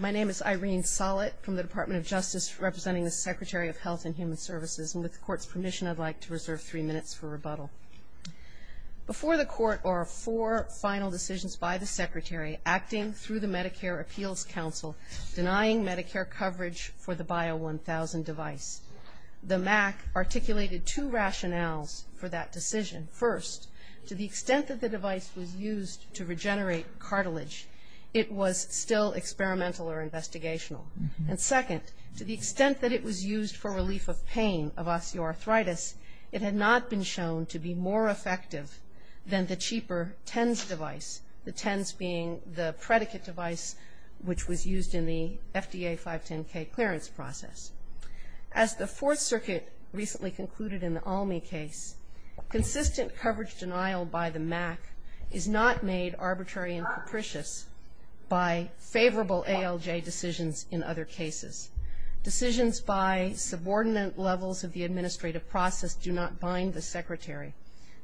My name is Irene Sollett from the Department of Justice, representing the Secretary of Health and Human Services, and with the Court's permission, I'd like to reserve three minutes for rebuttal. Before the Court are four final decisions by the Secretary acting through the Medicare Appeals Council denying Medicare coverage for the Bio-1000 device. The MAC articulated two rationales for that decision. First, to the extent that the device was used to regenerate cartilage, it was still experimental or investigational. And second, to the extent that it was used for relief of pain of osteoarthritis, it had not been shown to be more effective than the cheaper TENS device, the TENS being the predicate device which was used in the FDA 510K clearance process. As the Fourth Circuit recently concluded in the ALMI case, consistent coverage denial by the MAC is not made arbitrary and capricious by favorable ALJ decisions in other cases. Decisions by subordinate levels of the administrative process do not bind the Secretary.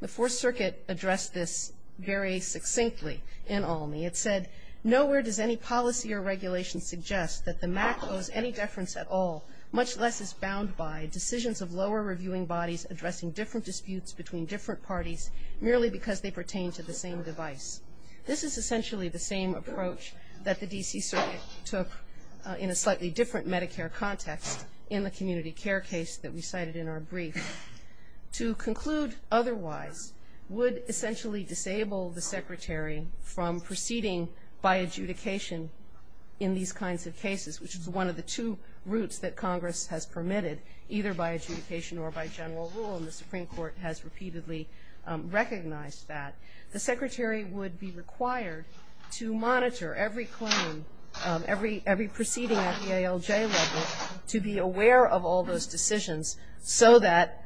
The Fourth Circuit addressed this very succinctly in ALMI. It said, nowhere does any policy or regulation suggest that the MAC owes any deference at all, much less is bound by decisions of lower reviewing bodies addressing different disputes between different parties, merely because they pertain to the same device. This is essentially the same approach that the D.C. Circuit took in a slightly different Medicare context in the community care case that we cited in our brief. To conclude otherwise would essentially disable the Secretary from proceeding by adjudication in these kinds of cases, which is one of the two routes that Congress has permitted, either by adjudication or by general rule, and the Supreme Court has repeatedly recognized that. The Secretary would be required to monitor every claim, every proceeding at the ALJ level, to be aware of all those decisions so that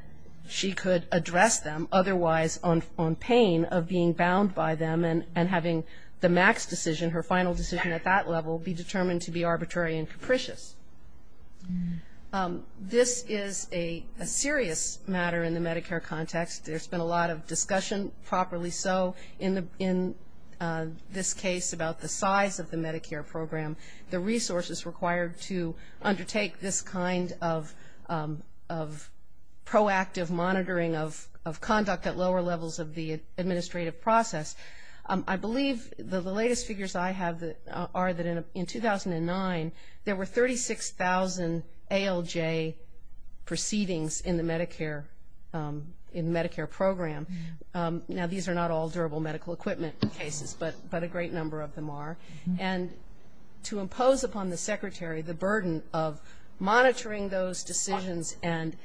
she could address them, otherwise on pain of being bound by them and having the MAC's decision, her final decision at that level, be determined to be arbitrary and capricious. This is a serious matter in the Medicare context. There's been a lot of discussion, properly so, in this case about the size of the Medicare program, the resources required to undertake this kind of proactive monitoring of conduct at lower levels of the administrative process. I believe the latest figures I have are that in 2009, there were 36,000 ALJ proceedings in the Medicare program. Now, these are not all durable medical equipment cases, but a great number of them are. And to impose upon the Secretary the burden of monitoring those decisions and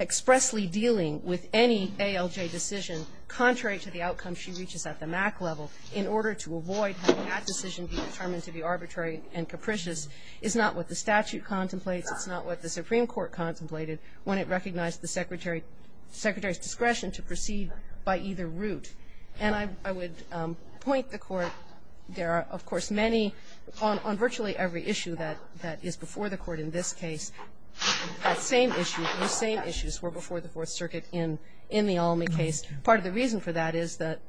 expressly dealing with any ALJ decision contrary to the outcome she reaches at the MAC level in order to avoid having that decision be determined to be arbitrary and capricious is not what the statute contemplates. It's not what the Supreme Court contemplated when it recognized the Secretary's discretion to proceed by either route. And I would point the Court, there are, of course, many, on virtually every issue that is before the Court in this case, that same issue, those same issues were before the Fourth Circuit in the Almy case. Part of the reason for that is that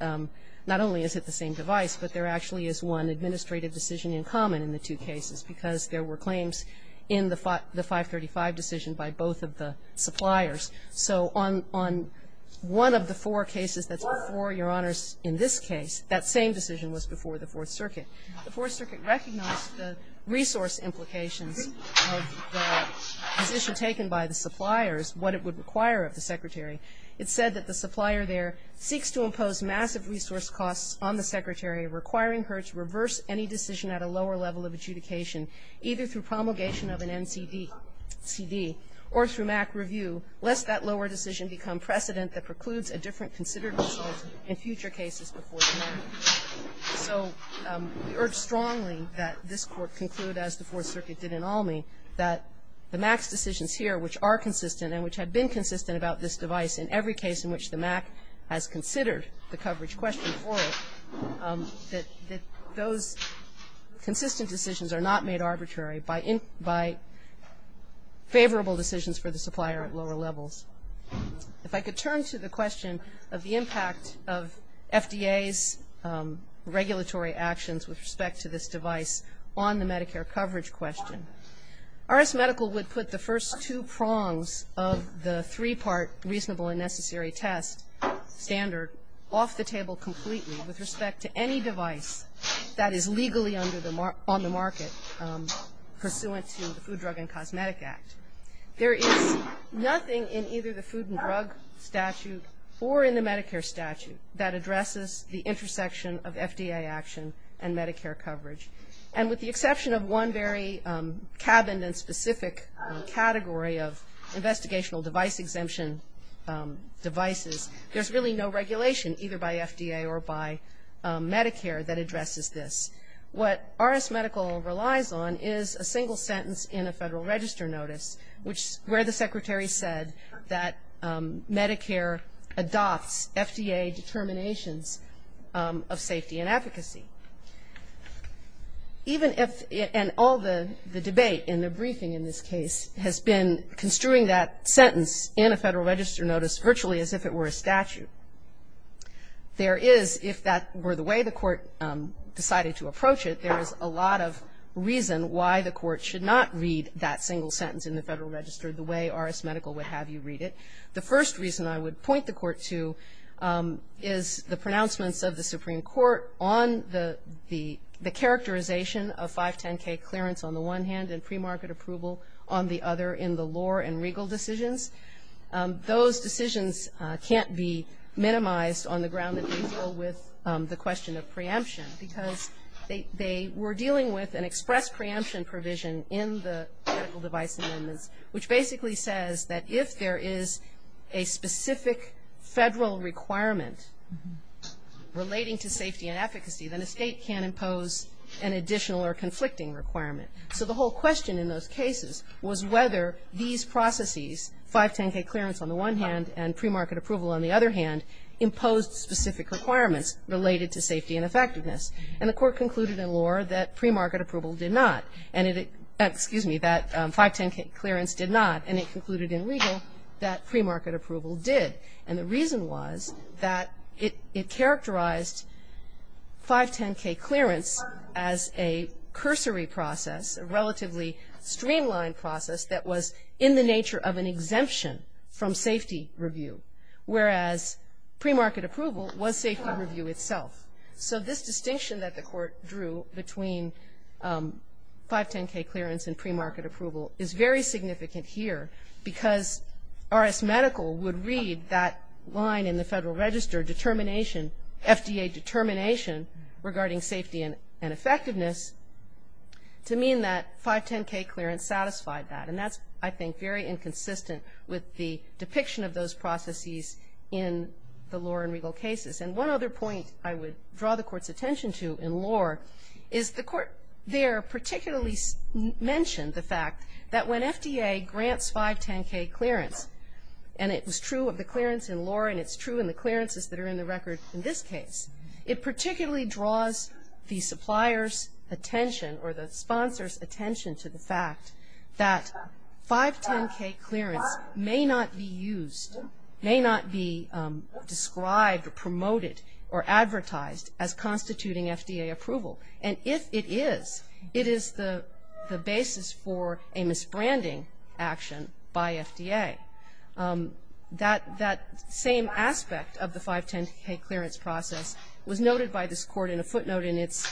not only is it the same device, but there actually is one administrative decision in common in the two cases because there were claims in the 535 decision by both of the suppliers. So on one of the four cases that's before, Your Honors, in this case, that same decision was before the Fourth Circuit. The Fourth Circuit recognized the resource implications of the position taken by the suppliers, what it would require of the Secretary. It said that the supplier there seeks to impose massive resource costs on the Secretary, requiring her to reverse any decision at a lower level of adjudication, either through become precedent that precludes a different considered result in future cases before the MAC. So we urge strongly that this Court conclude, as the Fourth Circuit did in Almy, that the MAC's decisions here, which are consistent and which have been consistent about this device in every case in which the MAC has considered the coverage question for it, that those consistent decisions are not made arbitrary by favorable decisions for the supplier at lower levels. If I could turn to the question of the impact of FDA's regulatory actions with respect to this device on the Medicare coverage question. RS Medical would put the first two prongs of the three-part reasonable and necessary test standard off the table completely with respect to any device that is legally on the market pursuant to the Food, Drug, and Cosmetic Act. There is nothing in either the Food and Drug statute or in the Medicare statute that addresses the intersection of FDA action and Medicare coverage. And with the exception of one very cabined and specific category of investigational device exemption devices, there's really no regulation, either by FDA or by Medicare, that addresses this. What RS Medical relies on is a single sentence in a Federal Register Notice, which is where the Secretary said that Medicare adopts FDA determinations of safety and advocacy. Even if, and all the debate in the briefing in this case has been construing that sentence in a Federal Register Notice virtually as if it were a statute. There is, if that were the way the court decided to approach it, there is a lot of reason why the court should not read that single sentence in the Federal Register the way RS Medical would have you read it. The first reason I would point the court to is the pronouncements of the Supreme Court on the characterization of 510K clearance on the one hand and premarket approval on the other in the law and legal decisions. Those decisions can't be minimized on the ground that they deal with the question of preemption, because they were dealing with an express preemption provision in the medical device amendments, which basically says that if there is a specific Federal requirement relating to safety and efficacy, then a State can impose an additional or conflicting requirement. So the whole question in those cases was whether these processes, 510K clearance on the one hand and premarket approval on the other hand, imposed specific requirements related to safety and effectiveness. And the court concluded in law that premarket approval did not. And it, excuse me, that 510K clearance did not. And it concluded in legal that premarket approval did. And the reason was that it characterized 510K clearance as a cursory process of relatively streamlined process that was in the nature of an exemption from safety review, whereas premarket approval was safety review itself. So this distinction that the court drew between 510K clearance and premarket approval is very significant here, because RS Medical would read that line in the Federal Register determination, FDA determination regarding safety and that 510K clearance satisfied that. And that's, I think, very inconsistent with the depiction of those processes in the law and legal cases. And one other point I would draw the Court's attention to in law is the Court there particularly mentioned the fact that when FDA grants 510K clearance, and it was true of the clearance in law and it's true in the clearances that are in the record in this case, it particularly draws the supplier's attention or the sponsor's attention to the fact that 510K clearance may not be used, may not be described or promoted or advertised as constituting FDA approval. And if it is, it is the basis for a misbranding action by FDA. That same aspect of the 510K clearance process was noted by this Court in a footnote in its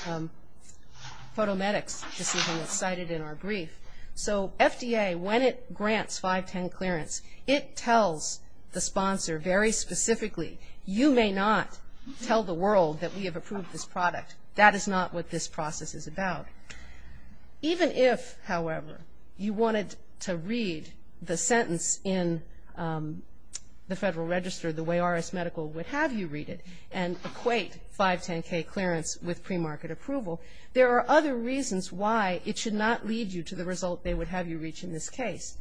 photometrics decision that's cited in our brief. So FDA, when it grants 510K clearance, it tells the sponsor very specifically, you may not tell the world that we have approved this product. That is not what this process is about. Even if, however, you wanted to read the sentence in the Federal Register the way R.S. Medical would have you read it and equate 510K clearance with pre-market approval, there are other reasons why it should not lead you to the result they would have you reach in this case.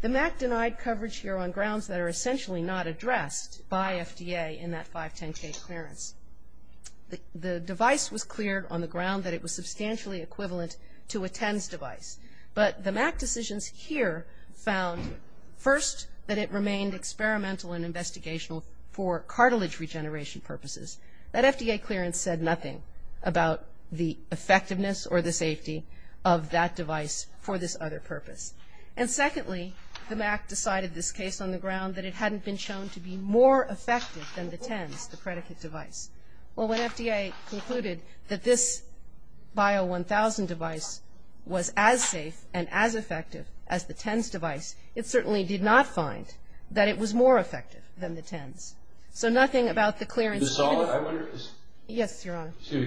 The MAC denied coverage here on grounds that are essentially not addressed by FDA in that 510K clearance. The device was cleared on the ground that it was substantially equivalent to a TENS device. But the MAC decisions here found, first, that it remained experimental and investigational for cartilage regeneration purposes. That FDA clearance said nothing about the effectiveness or the safety of that device for this other purpose. And secondly, the MAC decided this case on the ground that it hadn't been shown to be more effective than the TENS, the predicate device. Well, when FDA concluded that this Bio-1000 device was as safe and as effective as the TENS device, it certainly did not find that it was more effective than the TENS. So nothing about the clearance here. Yes, Your Honor. I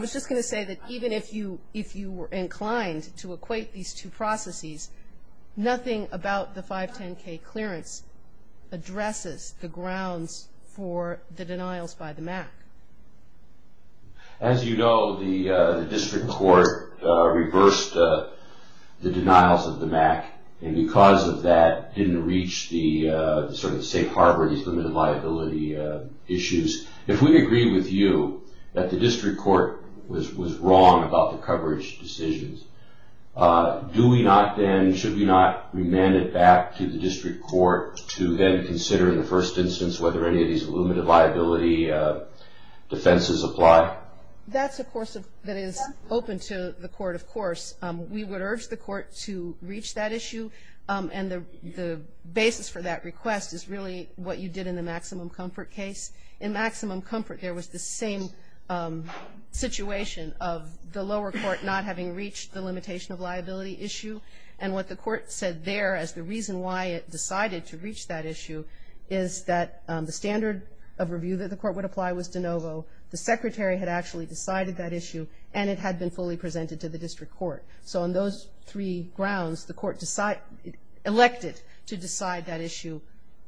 was just going to say that even if you were inclined to equate these two processes, nothing about the 510K clearance addresses the grounds for the denials by the MAC. As you know, the district court reversed the denials of the MAC, and because of that didn't reach the sort of safe harbor, these limited liability issues. If we agree with you that the district court was wrong about the coverage decisions, do we not then, should we not remand it back to the district court to then consider in the first instance whether any of these limited liability defenses apply? That's a course that is open to the court, of course. We would urge the court to reach that issue, and the basis for that request is really what you did in the maximum comfort case. In maximum comfort, there was the same situation of the lower court not having reached the limitation of liability issue, and what the court said there as the reason why it decided to reach that issue is that the standard of review that the court would apply was de novo. The secretary had actually decided that issue, and it had been fully presented to the district court. So on those three grounds, the court elected to decide that issue,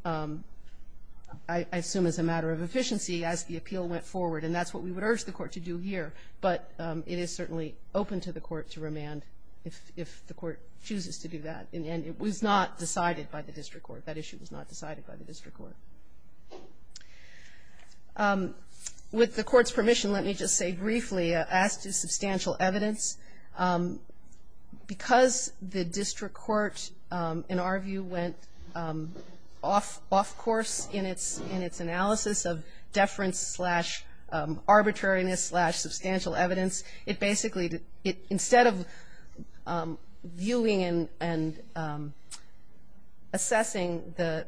I assume as a matter of efficiency, as the appeal went forward, and that's what we would urge the court to do here. But it is certainly open to the court to remand if the court chooses to do that, and it was not decided by the district court. That issue was not decided by the district court. With the court's permission, let me just say briefly, as to substantial evidence, because the district court, in our view, went off course in its analysis of deference slash arbitrariness slash substantial evidence. It basically, instead of viewing and assessing the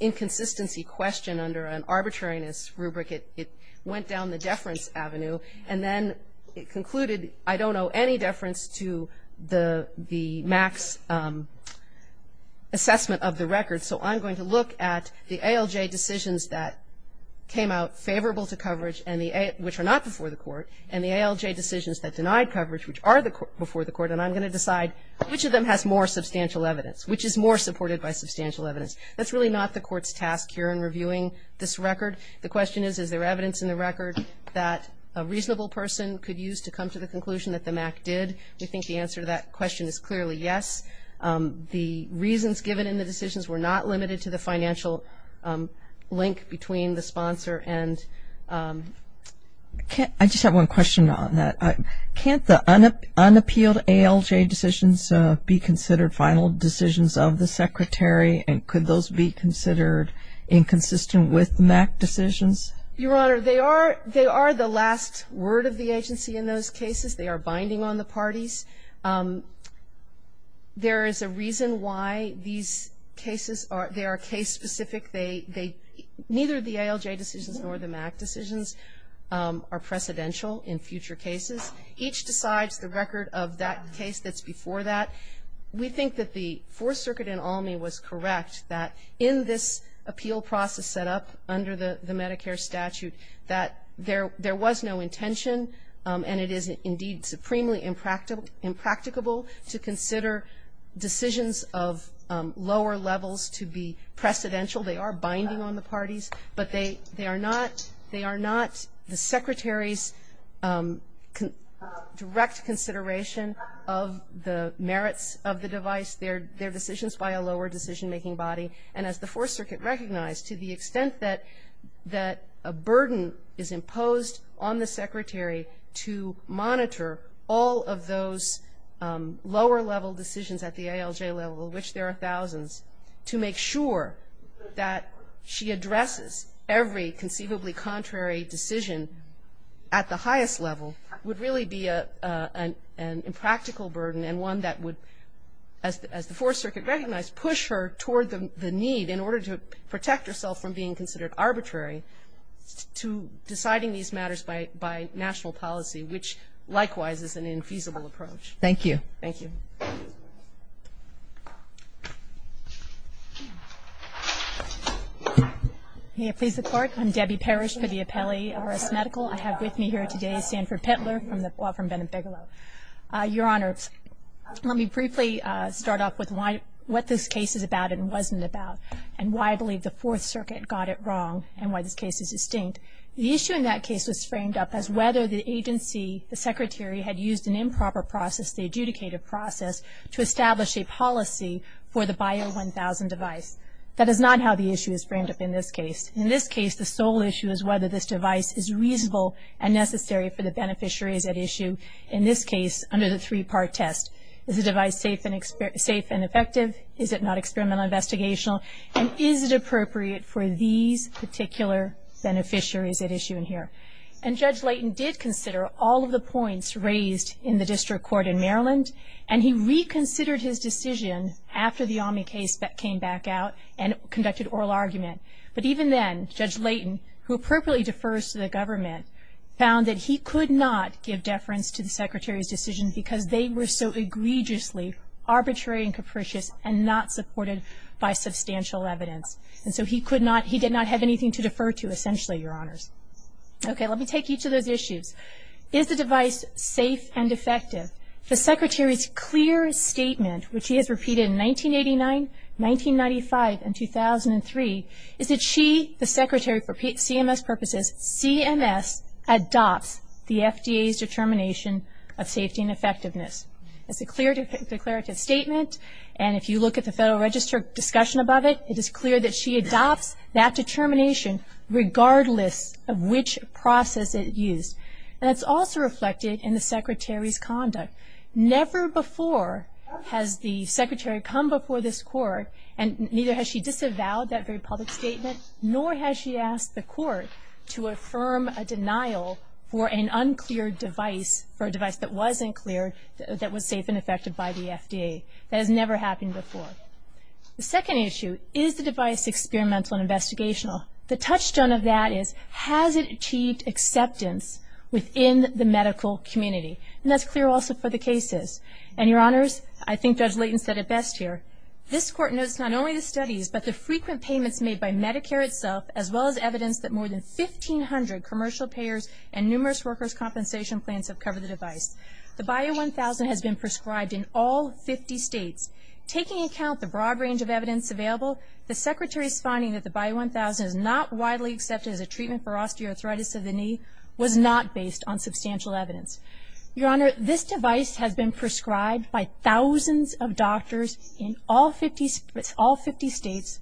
inconsistency question under an arbitrariness rubric, it went down the deference avenue, and then it concluded, I don't owe any deference to the max assessment of the record. So I'm going to look at the ALJ decisions that came out favorable to coverage, which are not before the court, and the ALJ decisions that denied coverage, which are before the court, and I'm going to decide which of them has more substantial evidence, which is more supported by substantial evidence. That's really not the court's task here in reviewing this record. The question is, is there evidence in the record that a reasonable person could use to come to the conclusion that the MAC did? We think the answer to that question is clearly yes. The reasons given in the decisions were not limited to the financial link between the sponsor and... I just have one question on that. Can't the unappealed ALJ decisions be considered final decisions of the Secretary, and could those be considered inconsistent with MAC decisions? Your Honor, they are the last word of the agency in those cases. They are binding on the parties. There is a reason why these cases are... they are case-specific. They... neither the ALJ decisions nor the MAC decisions are precedential in future cases. Each decides the record of that case that's before that. We think that the Fourth Circuit and ALMI was correct that in this appeal process set up under the Medicare statute that there was no intention, and it is indeed supremely impractical to consider decisions of lower levels to be precedential. They are binding on the parties, but they are not the Secretary's direct consideration of the merits of the device. They're decisions by a lower decision-making body. And as the Fourth Circuit recognized, to the extent that a burden is imposed on the Secretary to monitor all of those lower-level decisions at the ALJ level, of which there are thousands, to make sure that she addresses every conceivably contrary decision at the highest level, would really be an impractical burden and one that would, as the Fourth Circuit recognized, push her toward the need in order to protect herself from being considered arbitrary to deciding these matters by national policy, which, likewise, is an infeasible approach. Thank you. Thank you. Please report. I'm Debbie Parrish for the Appellee Arrest Medical. I have with me here today Sanford Pettler from Benefico. Your Honor, let me briefly start off with what this case is about and wasn't about and why I believe the Fourth Circuit got it wrong and why this case is distinct. The issue in that case was framed up as whether the agency, the Secretary, had used an improper process, the adjudicative process, to establish a policy for the Bio-1000 device. That is not how the issue is framed up in this case. In this case, the sole issue is whether this device is reasonable and necessary for the beneficiaries at issue. In this case, under the three-part test, is the device safe and effective? Is it not experimental and investigational? And is it appropriate for these particular beneficiaries at issue in here? And Judge Layton did consider all of the points raised in the district court in Maryland, and he reconsidered his decision after the Omni case came back out and conducted oral argument. But even then, Judge Layton, who appropriately defers to the government, found that he could not give deference to the Secretary's decision because they were so egregiously arbitrary and capricious and not supported by substantial evidence. And so he did not have anything to defer to, essentially, Your Honors. Okay, let me take each of those issues. Is the device safe and effective? The Secretary's clear statement, which he has repeated in 1989, 1995, and 2003, is that she, the Secretary, for CMS purposes, CMS, adopts the FDA's determination of safety and effectiveness. It's a clear declarative statement, and if you look at the Federal Register discussion about it, it is clear that she adopts that determination regardless of which process it used. And it's also reflected in the Secretary's conduct. Never before has the Secretary come before this Court, and neither has she disavowed that very public statement, nor has she asked the Court to affirm a denial for an unclear device, for a device that wasn't clear, that was safe and effective by the FDA. That has never happened before. The second issue, is the device experimental and investigational? The touchstone of that is, has it achieved acceptance within the medical community? And that's clear also for the cases. And, Your Honors, I think Judge Layton said it best here. This Court knows not only the studies, but the frequent payments made by Medicare itself, as well as evidence that more than 1,500 commercial payers and numerous workers' compensation plans have covered the device. The Bio-1000 has been prescribed in all 50 states. Taking into account the broad range of evidence available, the Secretary's finding that the Bio-1000 is not widely accepted as a treatment for osteoarthritis of the knee was not based on substantial evidence. Your Honor, this device has been prescribed by thousands of doctors in all 50 states,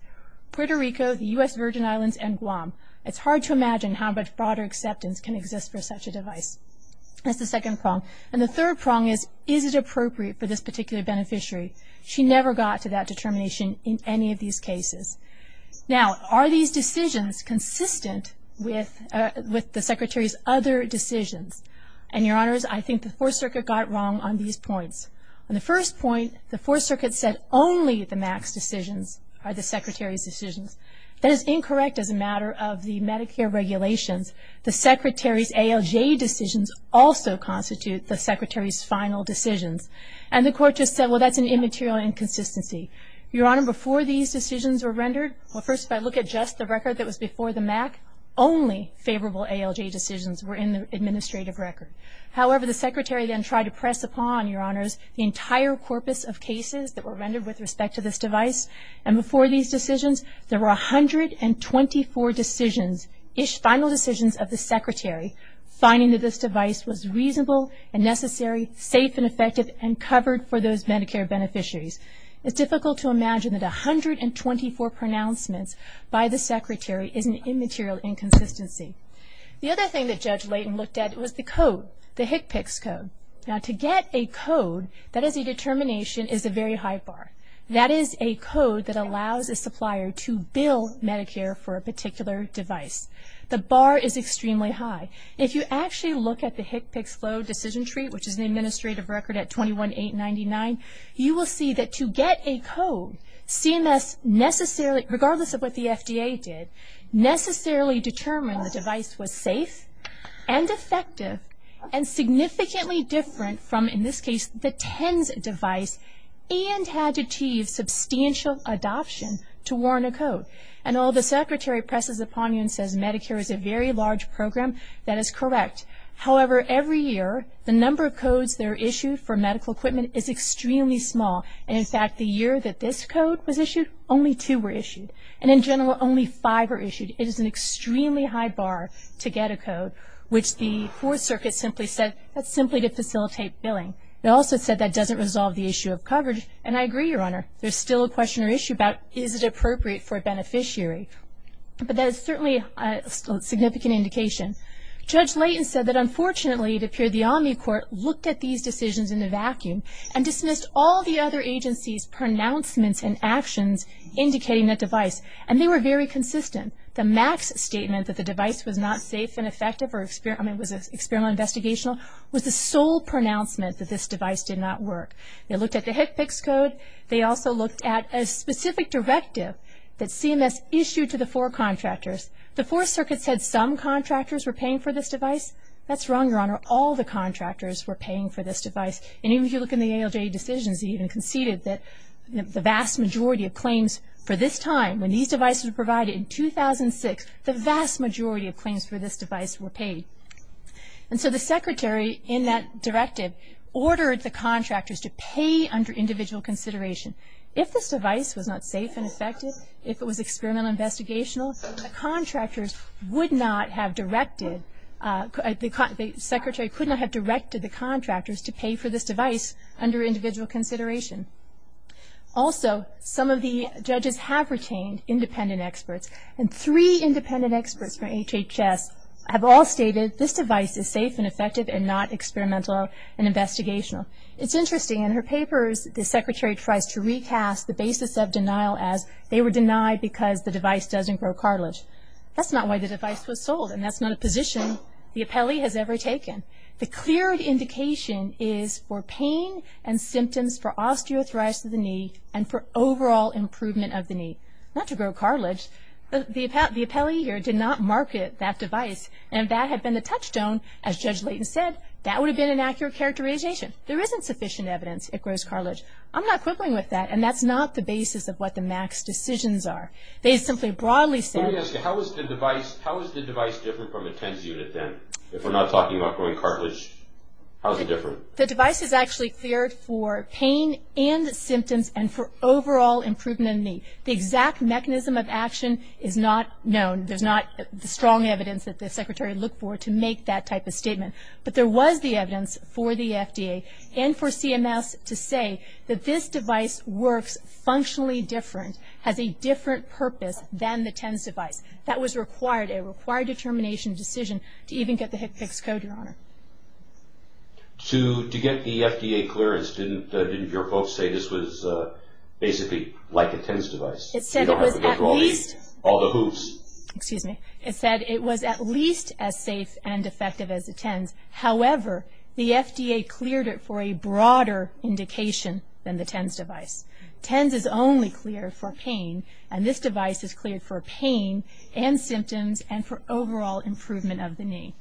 Puerto Rico, the U.S. Virgin Islands, and Guam. It's hard to imagine how much broader acceptance can exist for such a device. That's the second prong. And the third prong is, is it appropriate for this particular beneficiary? She never got to that determination in any of these cases. Now, are these decisions consistent with the Secretary's other decisions? And, Your Honors, I think the Fourth Circuit got wrong on these points. On the first point, the Fourth Circuit said only the Max decisions are the Secretary's decisions. That is incorrect as a matter of the Medicare regulations. The Secretary's ALJ decisions also constitute the Secretary's final decisions. And the Court just said, well, that's an immaterial inconsistency. Your Honor, before these decisions were rendered, well first if I look at just the record that was before the MAC, only favorable ALJ decisions were in the administrative record. However, the Secretary then tried to press upon, Your Honors, the entire corpus of cases that were rendered with respect to this device. And before these decisions, there were 124 decisions, final decisions of the Secretary finding that this device was reasonable and necessary, safe and effective, and covered for those Medicare beneficiaries. It's difficult to imagine that 124 pronouncements by the Secretary is an immaterial inconsistency. The other thing that Judge Layton looked at was the code, the HCPCS code. Now, to get a code that is a determination is a very high bar. That is a code that allows a supplier to bill Medicare for a particular device. The bar is extremely high. If you actually look at the HCPCS flow decision tree, which is an administrative record at 21-899, you will see that to get a code CMS necessarily, regardless of what the FDA did, necessarily determined the device was safe and effective and significantly different from, in this case, the TENS device and had to achieve substantial adoption to warrant a code. I know the Secretary presses upon you and says Medicare is a very large program. That is correct. However, every year the number of codes that are issued for medical equipment is extremely small. And, in fact, the year that this code was issued, only two were issued. And, in general, only five were issued. It is an extremely high bar to get a code, which the Fourth Circuit simply said, that's simply to facilitate billing. It also said that doesn't resolve the issue of coverage. And I agree, Your Honor. There's still a question or issue about is it appropriate for a beneficiary. But that is certainly a significant indication. Judge Layton said that, unfortunately, it appeared the Omnicourt looked at these decisions in a vacuum and dismissed all the other agencies' pronouncements and actions indicating the device. And they were very consistent. The MAX statement that the device was not safe and effective, I mean it was experimental and investigational, was the sole pronouncement that this device did not work. They looked at the HCPCS code. They also looked at a specific directive that CMS issued to the four contractors. The Fourth Circuit said some contractors were paying for this device. That's wrong, Your Honor. All the contractors were paying for this device. And even if you look in the ALJ decisions, they even conceded that the vast majority of claims for this time, when these devices were provided in 2006, the vast majority of claims for this device were paid. And so the Secretary, in that directive, ordered the contractors to pay under individual consideration. If this device was not safe and effective, if it was experimental and investigational, the contractors would not have directed, the Secretary could not have directed the contractors to pay for this device under individual consideration. Also, some of the judges have retained independent experts. And three independent experts from HHS have all stated this device is safe and effective and not experimental and investigational. It's interesting. In her papers, the Secretary tries to recast the basis of denial as they were denied because the device doesn't grow cartilage. That's not why the device was sold, and that's not a position the appellee has ever taken. The clear indication is for pain and symptoms for osteoarthritis of the knee and for overall improvement of the knee, not to grow cartilage. The appellee here did not market that device. And if that had been the touchstone, as Judge Layton said, that would have been an accurate characterization. There isn't sufficient evidence it grows cartilage. I'm not quibbling with that, and that's not the basis of what the MAC's decisions are. They simply broadly said. Let me ask you, how is the device different from a TENS unit then? If we're not talking about growing cartilage, how is it different? The device is actually cleared for pain and symptoms and for overall improvement of the knee. The exact mechanism of action is not known. There's not strong evidence that the Secretary looked for to make that type of statement. But there was the evidence for the FDA and for CMS to say that this device works functionally different, has a different purpose than the TENS device. That was required, a required determination decision to even get the HCPCS code, Your Honor. To get the FDA clearance, didn't your folks say this was basically like a TENS device? You don't have to go through all the hoops. However, the FDA cleared it for a broader indication than the TENS device. TENS is only cleared for pain, and this device is cleared for pain and symptoms and for overall improvement of the knee.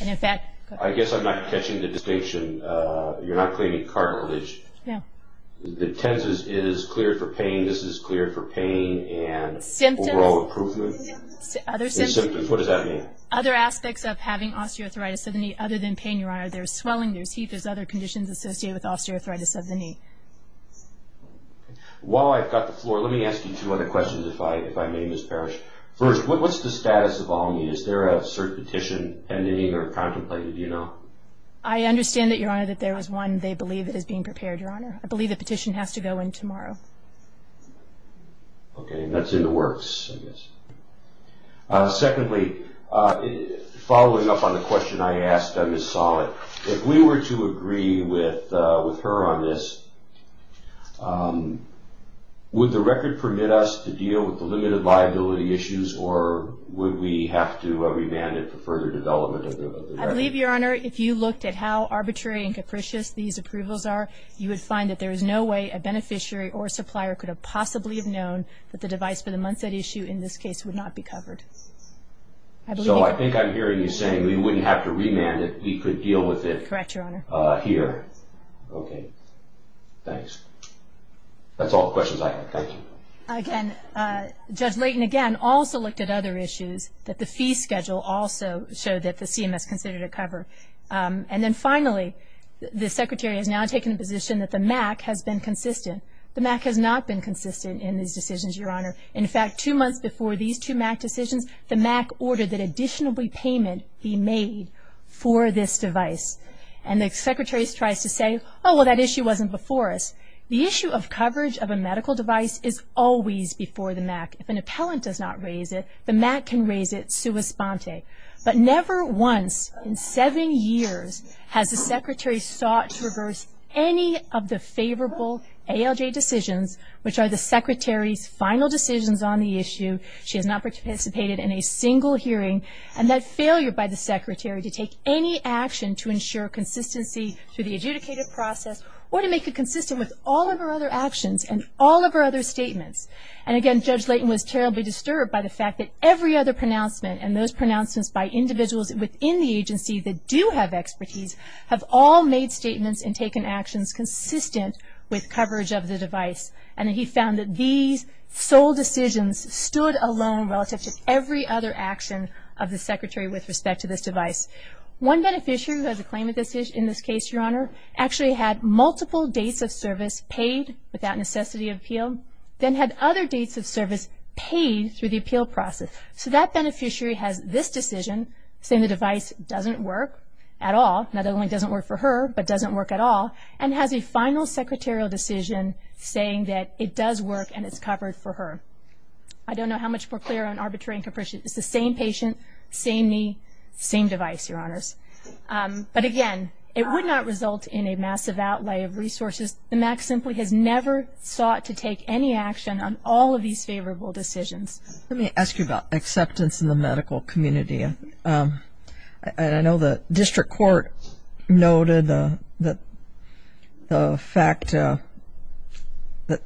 I guess I'm not catching the distinction. You're not cleaning cartilage. No. The TENS is cleared for pain. This is cleared for pain and overall improvement. Symptoms. What does that mean? Other aspects of having osteoarthritis of the knee other than pain, Your Honor. There's swelling. There's heat. There's other conditions associated with osteoarthritis of the knee. While I've got the floor, let me ask you two other questions if I may, Ms. Parrish. First, what's the status of all knees? Is there a cert petition pending or contemplated, do you know? I understand that, Your Honor, that there is one they believe that is being prepared, Your Honor. I believe the petition has to go in tomorrow. Okay. That's in the works, I guess. Secondly, following up on the question I asked Ms. Sollett, if we were to agree with her on this, would the record permit us to deal with the limited liability issues or would we have to remand it for further development of the record? I believe, Your Honor, if you looked at how arbitrary and capricious these approvals are, you would find that there is no way a beneficiary or supplier could have possibly have known that the device for the Munset issue in this case would not be covered. So I think I'm hearing you saying we wouldn't have to remand it, we could deal with it here. Correct, Your Honor. Okay. Thanks. That's all the questions I have. Thank you. Again, Judge Layton, again, also looked at other issues that the fee schedule also showed that the CMS considered to cover. And then finally, the Secretary has now taken the position that the MAC has been consistent. The MAC has not been consistent in these decisions, Your Honor. In fact, two months before these two MAC decisions, the MAC ordered that additional repayment be made for this device. And the Secretary tries to say, oh, well, that issue wasn't before us. The issue of coverage of a medical device is always before the MAC. If an appellant does not raise it, the MAC can raise it sua sponte. But never once in seven years has the Secretary sought to reverse any of the favorable ALJ decisions, which are the Secretary's final decisions on the issue. She has not participated in a single hearing. And that failure by the Secretary to take any action to ensure consistency through the adjudicated process or to make it consistent with all of her other actions and all of her other statements. And again, Judge Layton was terribly disturbed by the fact that every other pronouncement and those pronouncements by individuals within the agency that do have expertise have all made statements and taken actions consistent with coverage of the device. And he found that these sole decisions stood alone relative to every other action of the Secretary with respect to this device. One beneficiary who has a claim in this case, Your Honor, actually had multiple dates of service paid without necessity of appeal, then had other dates of service paid through the appeal process. So that beneficiary has this decision, saying the device doesn't work at all, not only doesn't work for her, but doesn't work at all, and has a final Secretarial decision saying that it does work and it's covered for her. I don't know how much more clear on arbitrary and capricious. It's the same patient, same knee, same device, Your Honors. But again, it would not result in a massive outlay of resources. The MAC simply has never sought to take any action on all of these favorable decisions. Let me ask you about acceptance in the medical community. I know the district court noted the fact that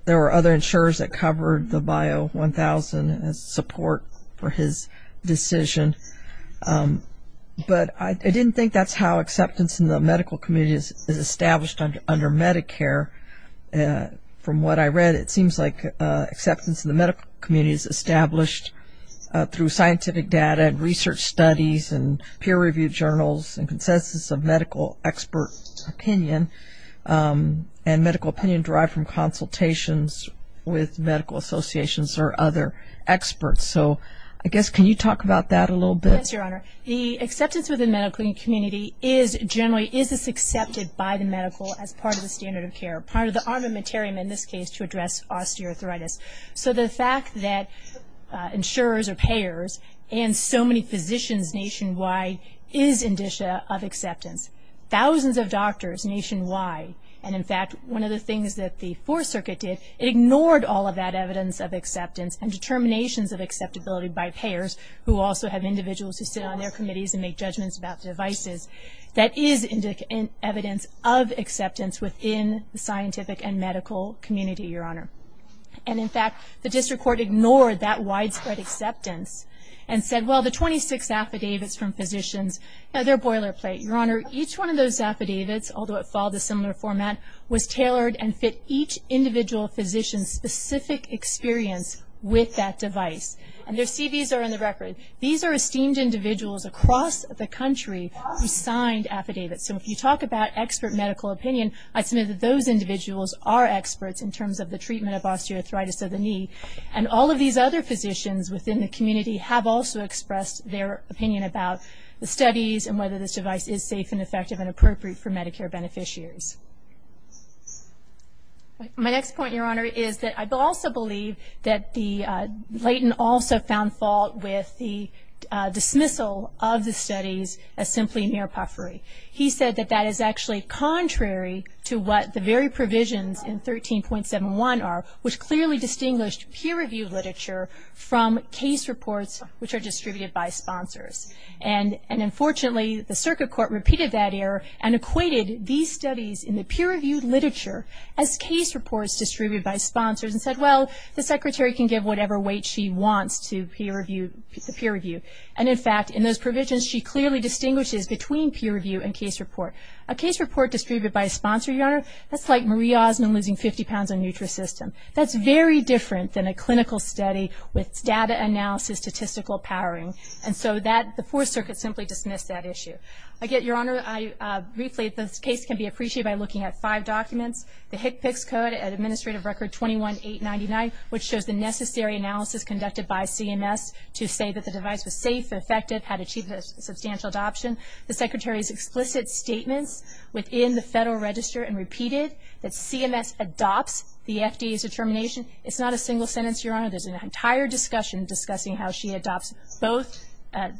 there were other insurers that covered the Bio 1000 as support for his decision. But I didn't think that's how acceptance in the medical community is established under Medicare. From what I read, it seems like acceptance in the medical community is established through scientific data and research studies and peer-reviewed journals and consensus of medical expert opinion, and medical opinion derived from consultations with medical associations or other experts. So I guess, can you talk about that a little bit? Yes, Your Honor. The acceptance within the medical community is generally is this accepted by the medical as part of the standard of care, part of the armamentarium in this case to address osteoarthritis. So the fact that insurers or payers and so many physicians nationwide is indicia of acceptance. Thousands of doctors nationwide. And in fact, one of the things that the Fourth Circuit did, it ignored all of that evidence of acceptance and determinations of acceptability by payers, who also have individuals who sit on their committees and make judgments about devices. That is evidence of acceptance within the scientific and medical community, Your Honor. And in fact, the district court ignored that widespread acceptance and said, well, the 26 affidavits from physicians, they're a boilerplate. Your Honor, each one of those affidavits, although it followed a similar format, was tailored and fit each individual physician's specific experience with that device. And their CVs are in the record. These are esteemed individuals across the country who signed affidavits. So if you talk about expert medical opinion, I submit that those individuals are experts in terms of the treatment of osteoarthritis of the knee. And all of these other physicians within the community have also expressed their opinion about the studies and whether this device is safe and effective and appropriate for Medicare beneficiaries. My next point, Your Honor, is that I also believe that Layton also found fault with the dismissal of the studies as simply mere puffery. He said that that is actually contrary to what the very provisions in 13.71 are, which clearly distinguished peer-reviewed literature from case reports which are distributed by sponsors. And unfortunately, the circuit court repeated that error and equated these studies in the peer-reviewed literature as case reports distributed by sponsors and said, well, the secretary can give whatever weight she wants to peer-review. And in fact, in those provisions, she clearly distinguishes between peer-review and case report. A case report distributed by a sponsor, Your Honor, that's like Marie Osmond losing 50 pounds on NutraSystem. That's very different than a clinical study with data analysis statistical powering. And so the Fourth Circuit simply dismissed that issue. Again, Your Honor, briefly, this case can be appreciated by looking at five documents. The HCPCS Code Administrative Record 21-899, which shows the necessary analysis conducted by CMS to say that the device was safe and effective, had achieved a substantial adoption. The secretary's explicit statements within the Federal Register and repeated that CMS adopts the FDA's determination. It's not a single sentence, Your Honor. There's an entire discussion discussing how she adopts both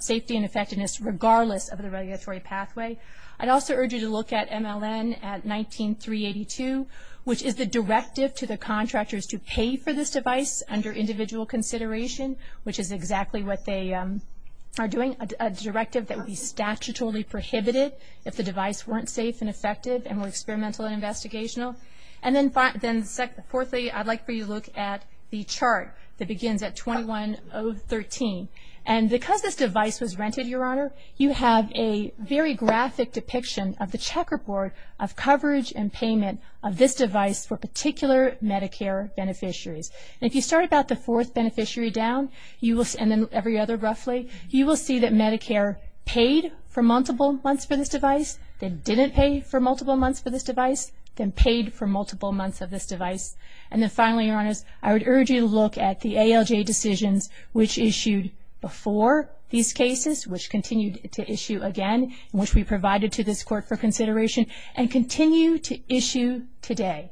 safety and effectiveness regardless of the regulatory pathway. I'd also urge you to look at MLN at 19-382, which is the directive to the contractors to pay for this device under individual consideration, which is exactly what they are doing, a directive that would be statutorily prohibited if the device weren't safe and effective and were experimental and investigational. And then fourthly, I'd like for you to look at the chart that begins at 21-013. And because this device was rented, Your Honor, you have a very graphic depiction of the checkerboard of coverage and payment of this device for particular Medicare beneficiaries. And if you start about the fourth beneficiary down, and then every other roughly, you will see that Medicare paid for multiple months for this device, then didn't pay for multiple months for this device, then paid for multiple months of this device. And then finally, Your Honor, I would urge you to look at the ALJ decisions, which issued before these cases, which continued to issue again, which we provided to this Court for consideration, and continue to issue today.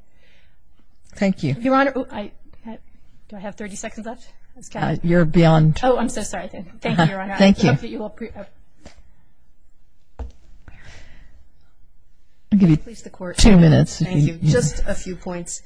Thank you. Your Honor, do I have 30 seconds left? You're beyond. Oh, I'm so sorry. Thank you, Your Honor. Thank you. I'll give you two minutes. Thank you. Just a few points.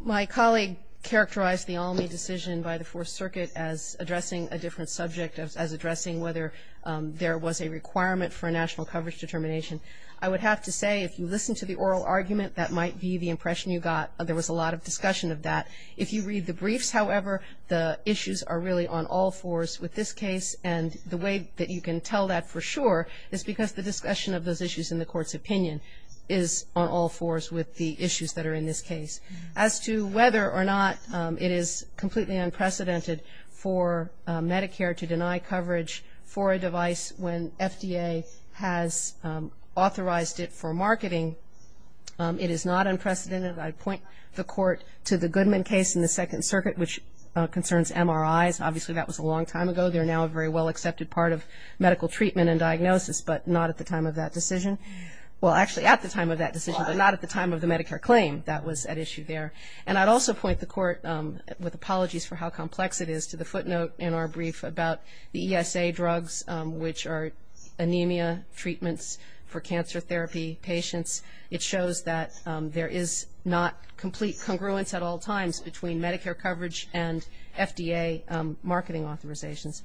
My colleague characterized the ALMI decision by the Fourth Circuit as addressing a different subject, as addressing whether there was a requirement for a national coverage determination. I would have to say, if you listen to the oral argument, that might be the impression you got. There was a lot of discussion of that. If you read the briefs, however, the issues are really on all fours. With this case and the way that you can tell that for sure is because the discussion of those issues in the Court's opinion is on all fours with the issues that are in this case. As to whether or not it is completely unprecedented for Medicare to deny coverage for a device when FDA has authorized it for marketing, it is not unprecedented. I point the Court to the Goodman case in the Second Circuit, which concerns MRIs. Obviously, that was a long time ago. They're now a very well-accepted part of medical treatment and diagnosis, but not at the time of that decision. Well, actually, at the time of that decision, but not at the time of the Medicare claim that was at issue there. And I'd also point the Court, with apologies for how complex it is, to the footnote in our brief about the ESA drugs, which are anemia treatments for cancer therapy patients. It shows that there is not complete congruence at all times between Medicare coverage and FDA marketing authorizations.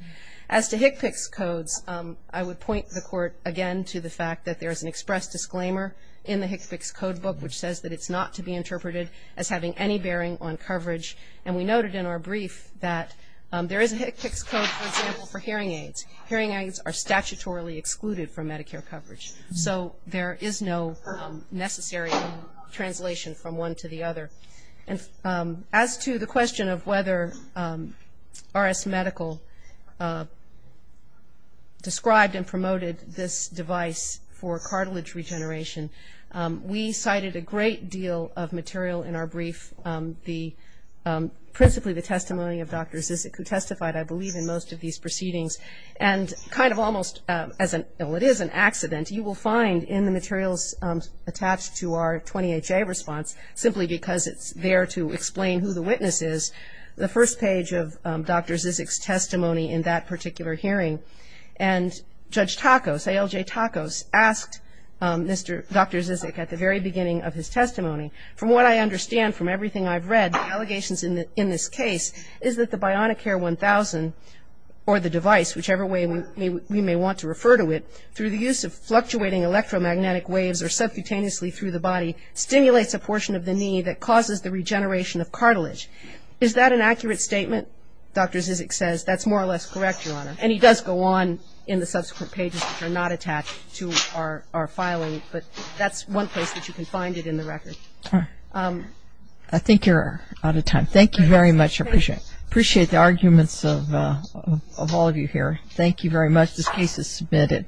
As to HCPCS codes, I would point the Court again to the fact that there is an express disclaimer in the HCPCS code book which says that it's not to be interpreted as having any bearing on coverage. And we noted in our brief that there is a HCPCS code, for example, for hearing aids. Hearing aids are statutorily excluded from Medicare coverage. So there is no necessary translation from one to the other. And as to the question of whether RS Medical described and promoted this device for cartilage regeneration, we cited a great deal of material in our brief, principally the testimony of Dr. Zizek, who testified, I believe, in most of these proceedings. And kind of almost as an, well, it is an accident. You will find in the materials attached to our 20HA response, simply because it's there to explain who the witness is, the first page of Dr. Zizek's testimony in that particular hearing. And Judge Tacos, ALJ Tacos, asked Dr. Zizek at the very beginning of his testimony, from what I understand from everything I've read, the allegations in this case, is that the Bionicare 1000 or the device, whichever way we may want to refer to it, through the use of fluctuating electromagnetic waves or subcutaneously through the body, stimulates a portion of the knee that causes the regeneration of cartilage. Is that an accurate statement? Dr. Zizek says that's more or less correct, Your Honor. And he does go on in the subsequent pages, which are not attached to our filing. But that's one place that you can find it in the record. I think you're out of time. Thank you very much. I appreciate the arguments of all of you here. Thank you very much. This case is submitted.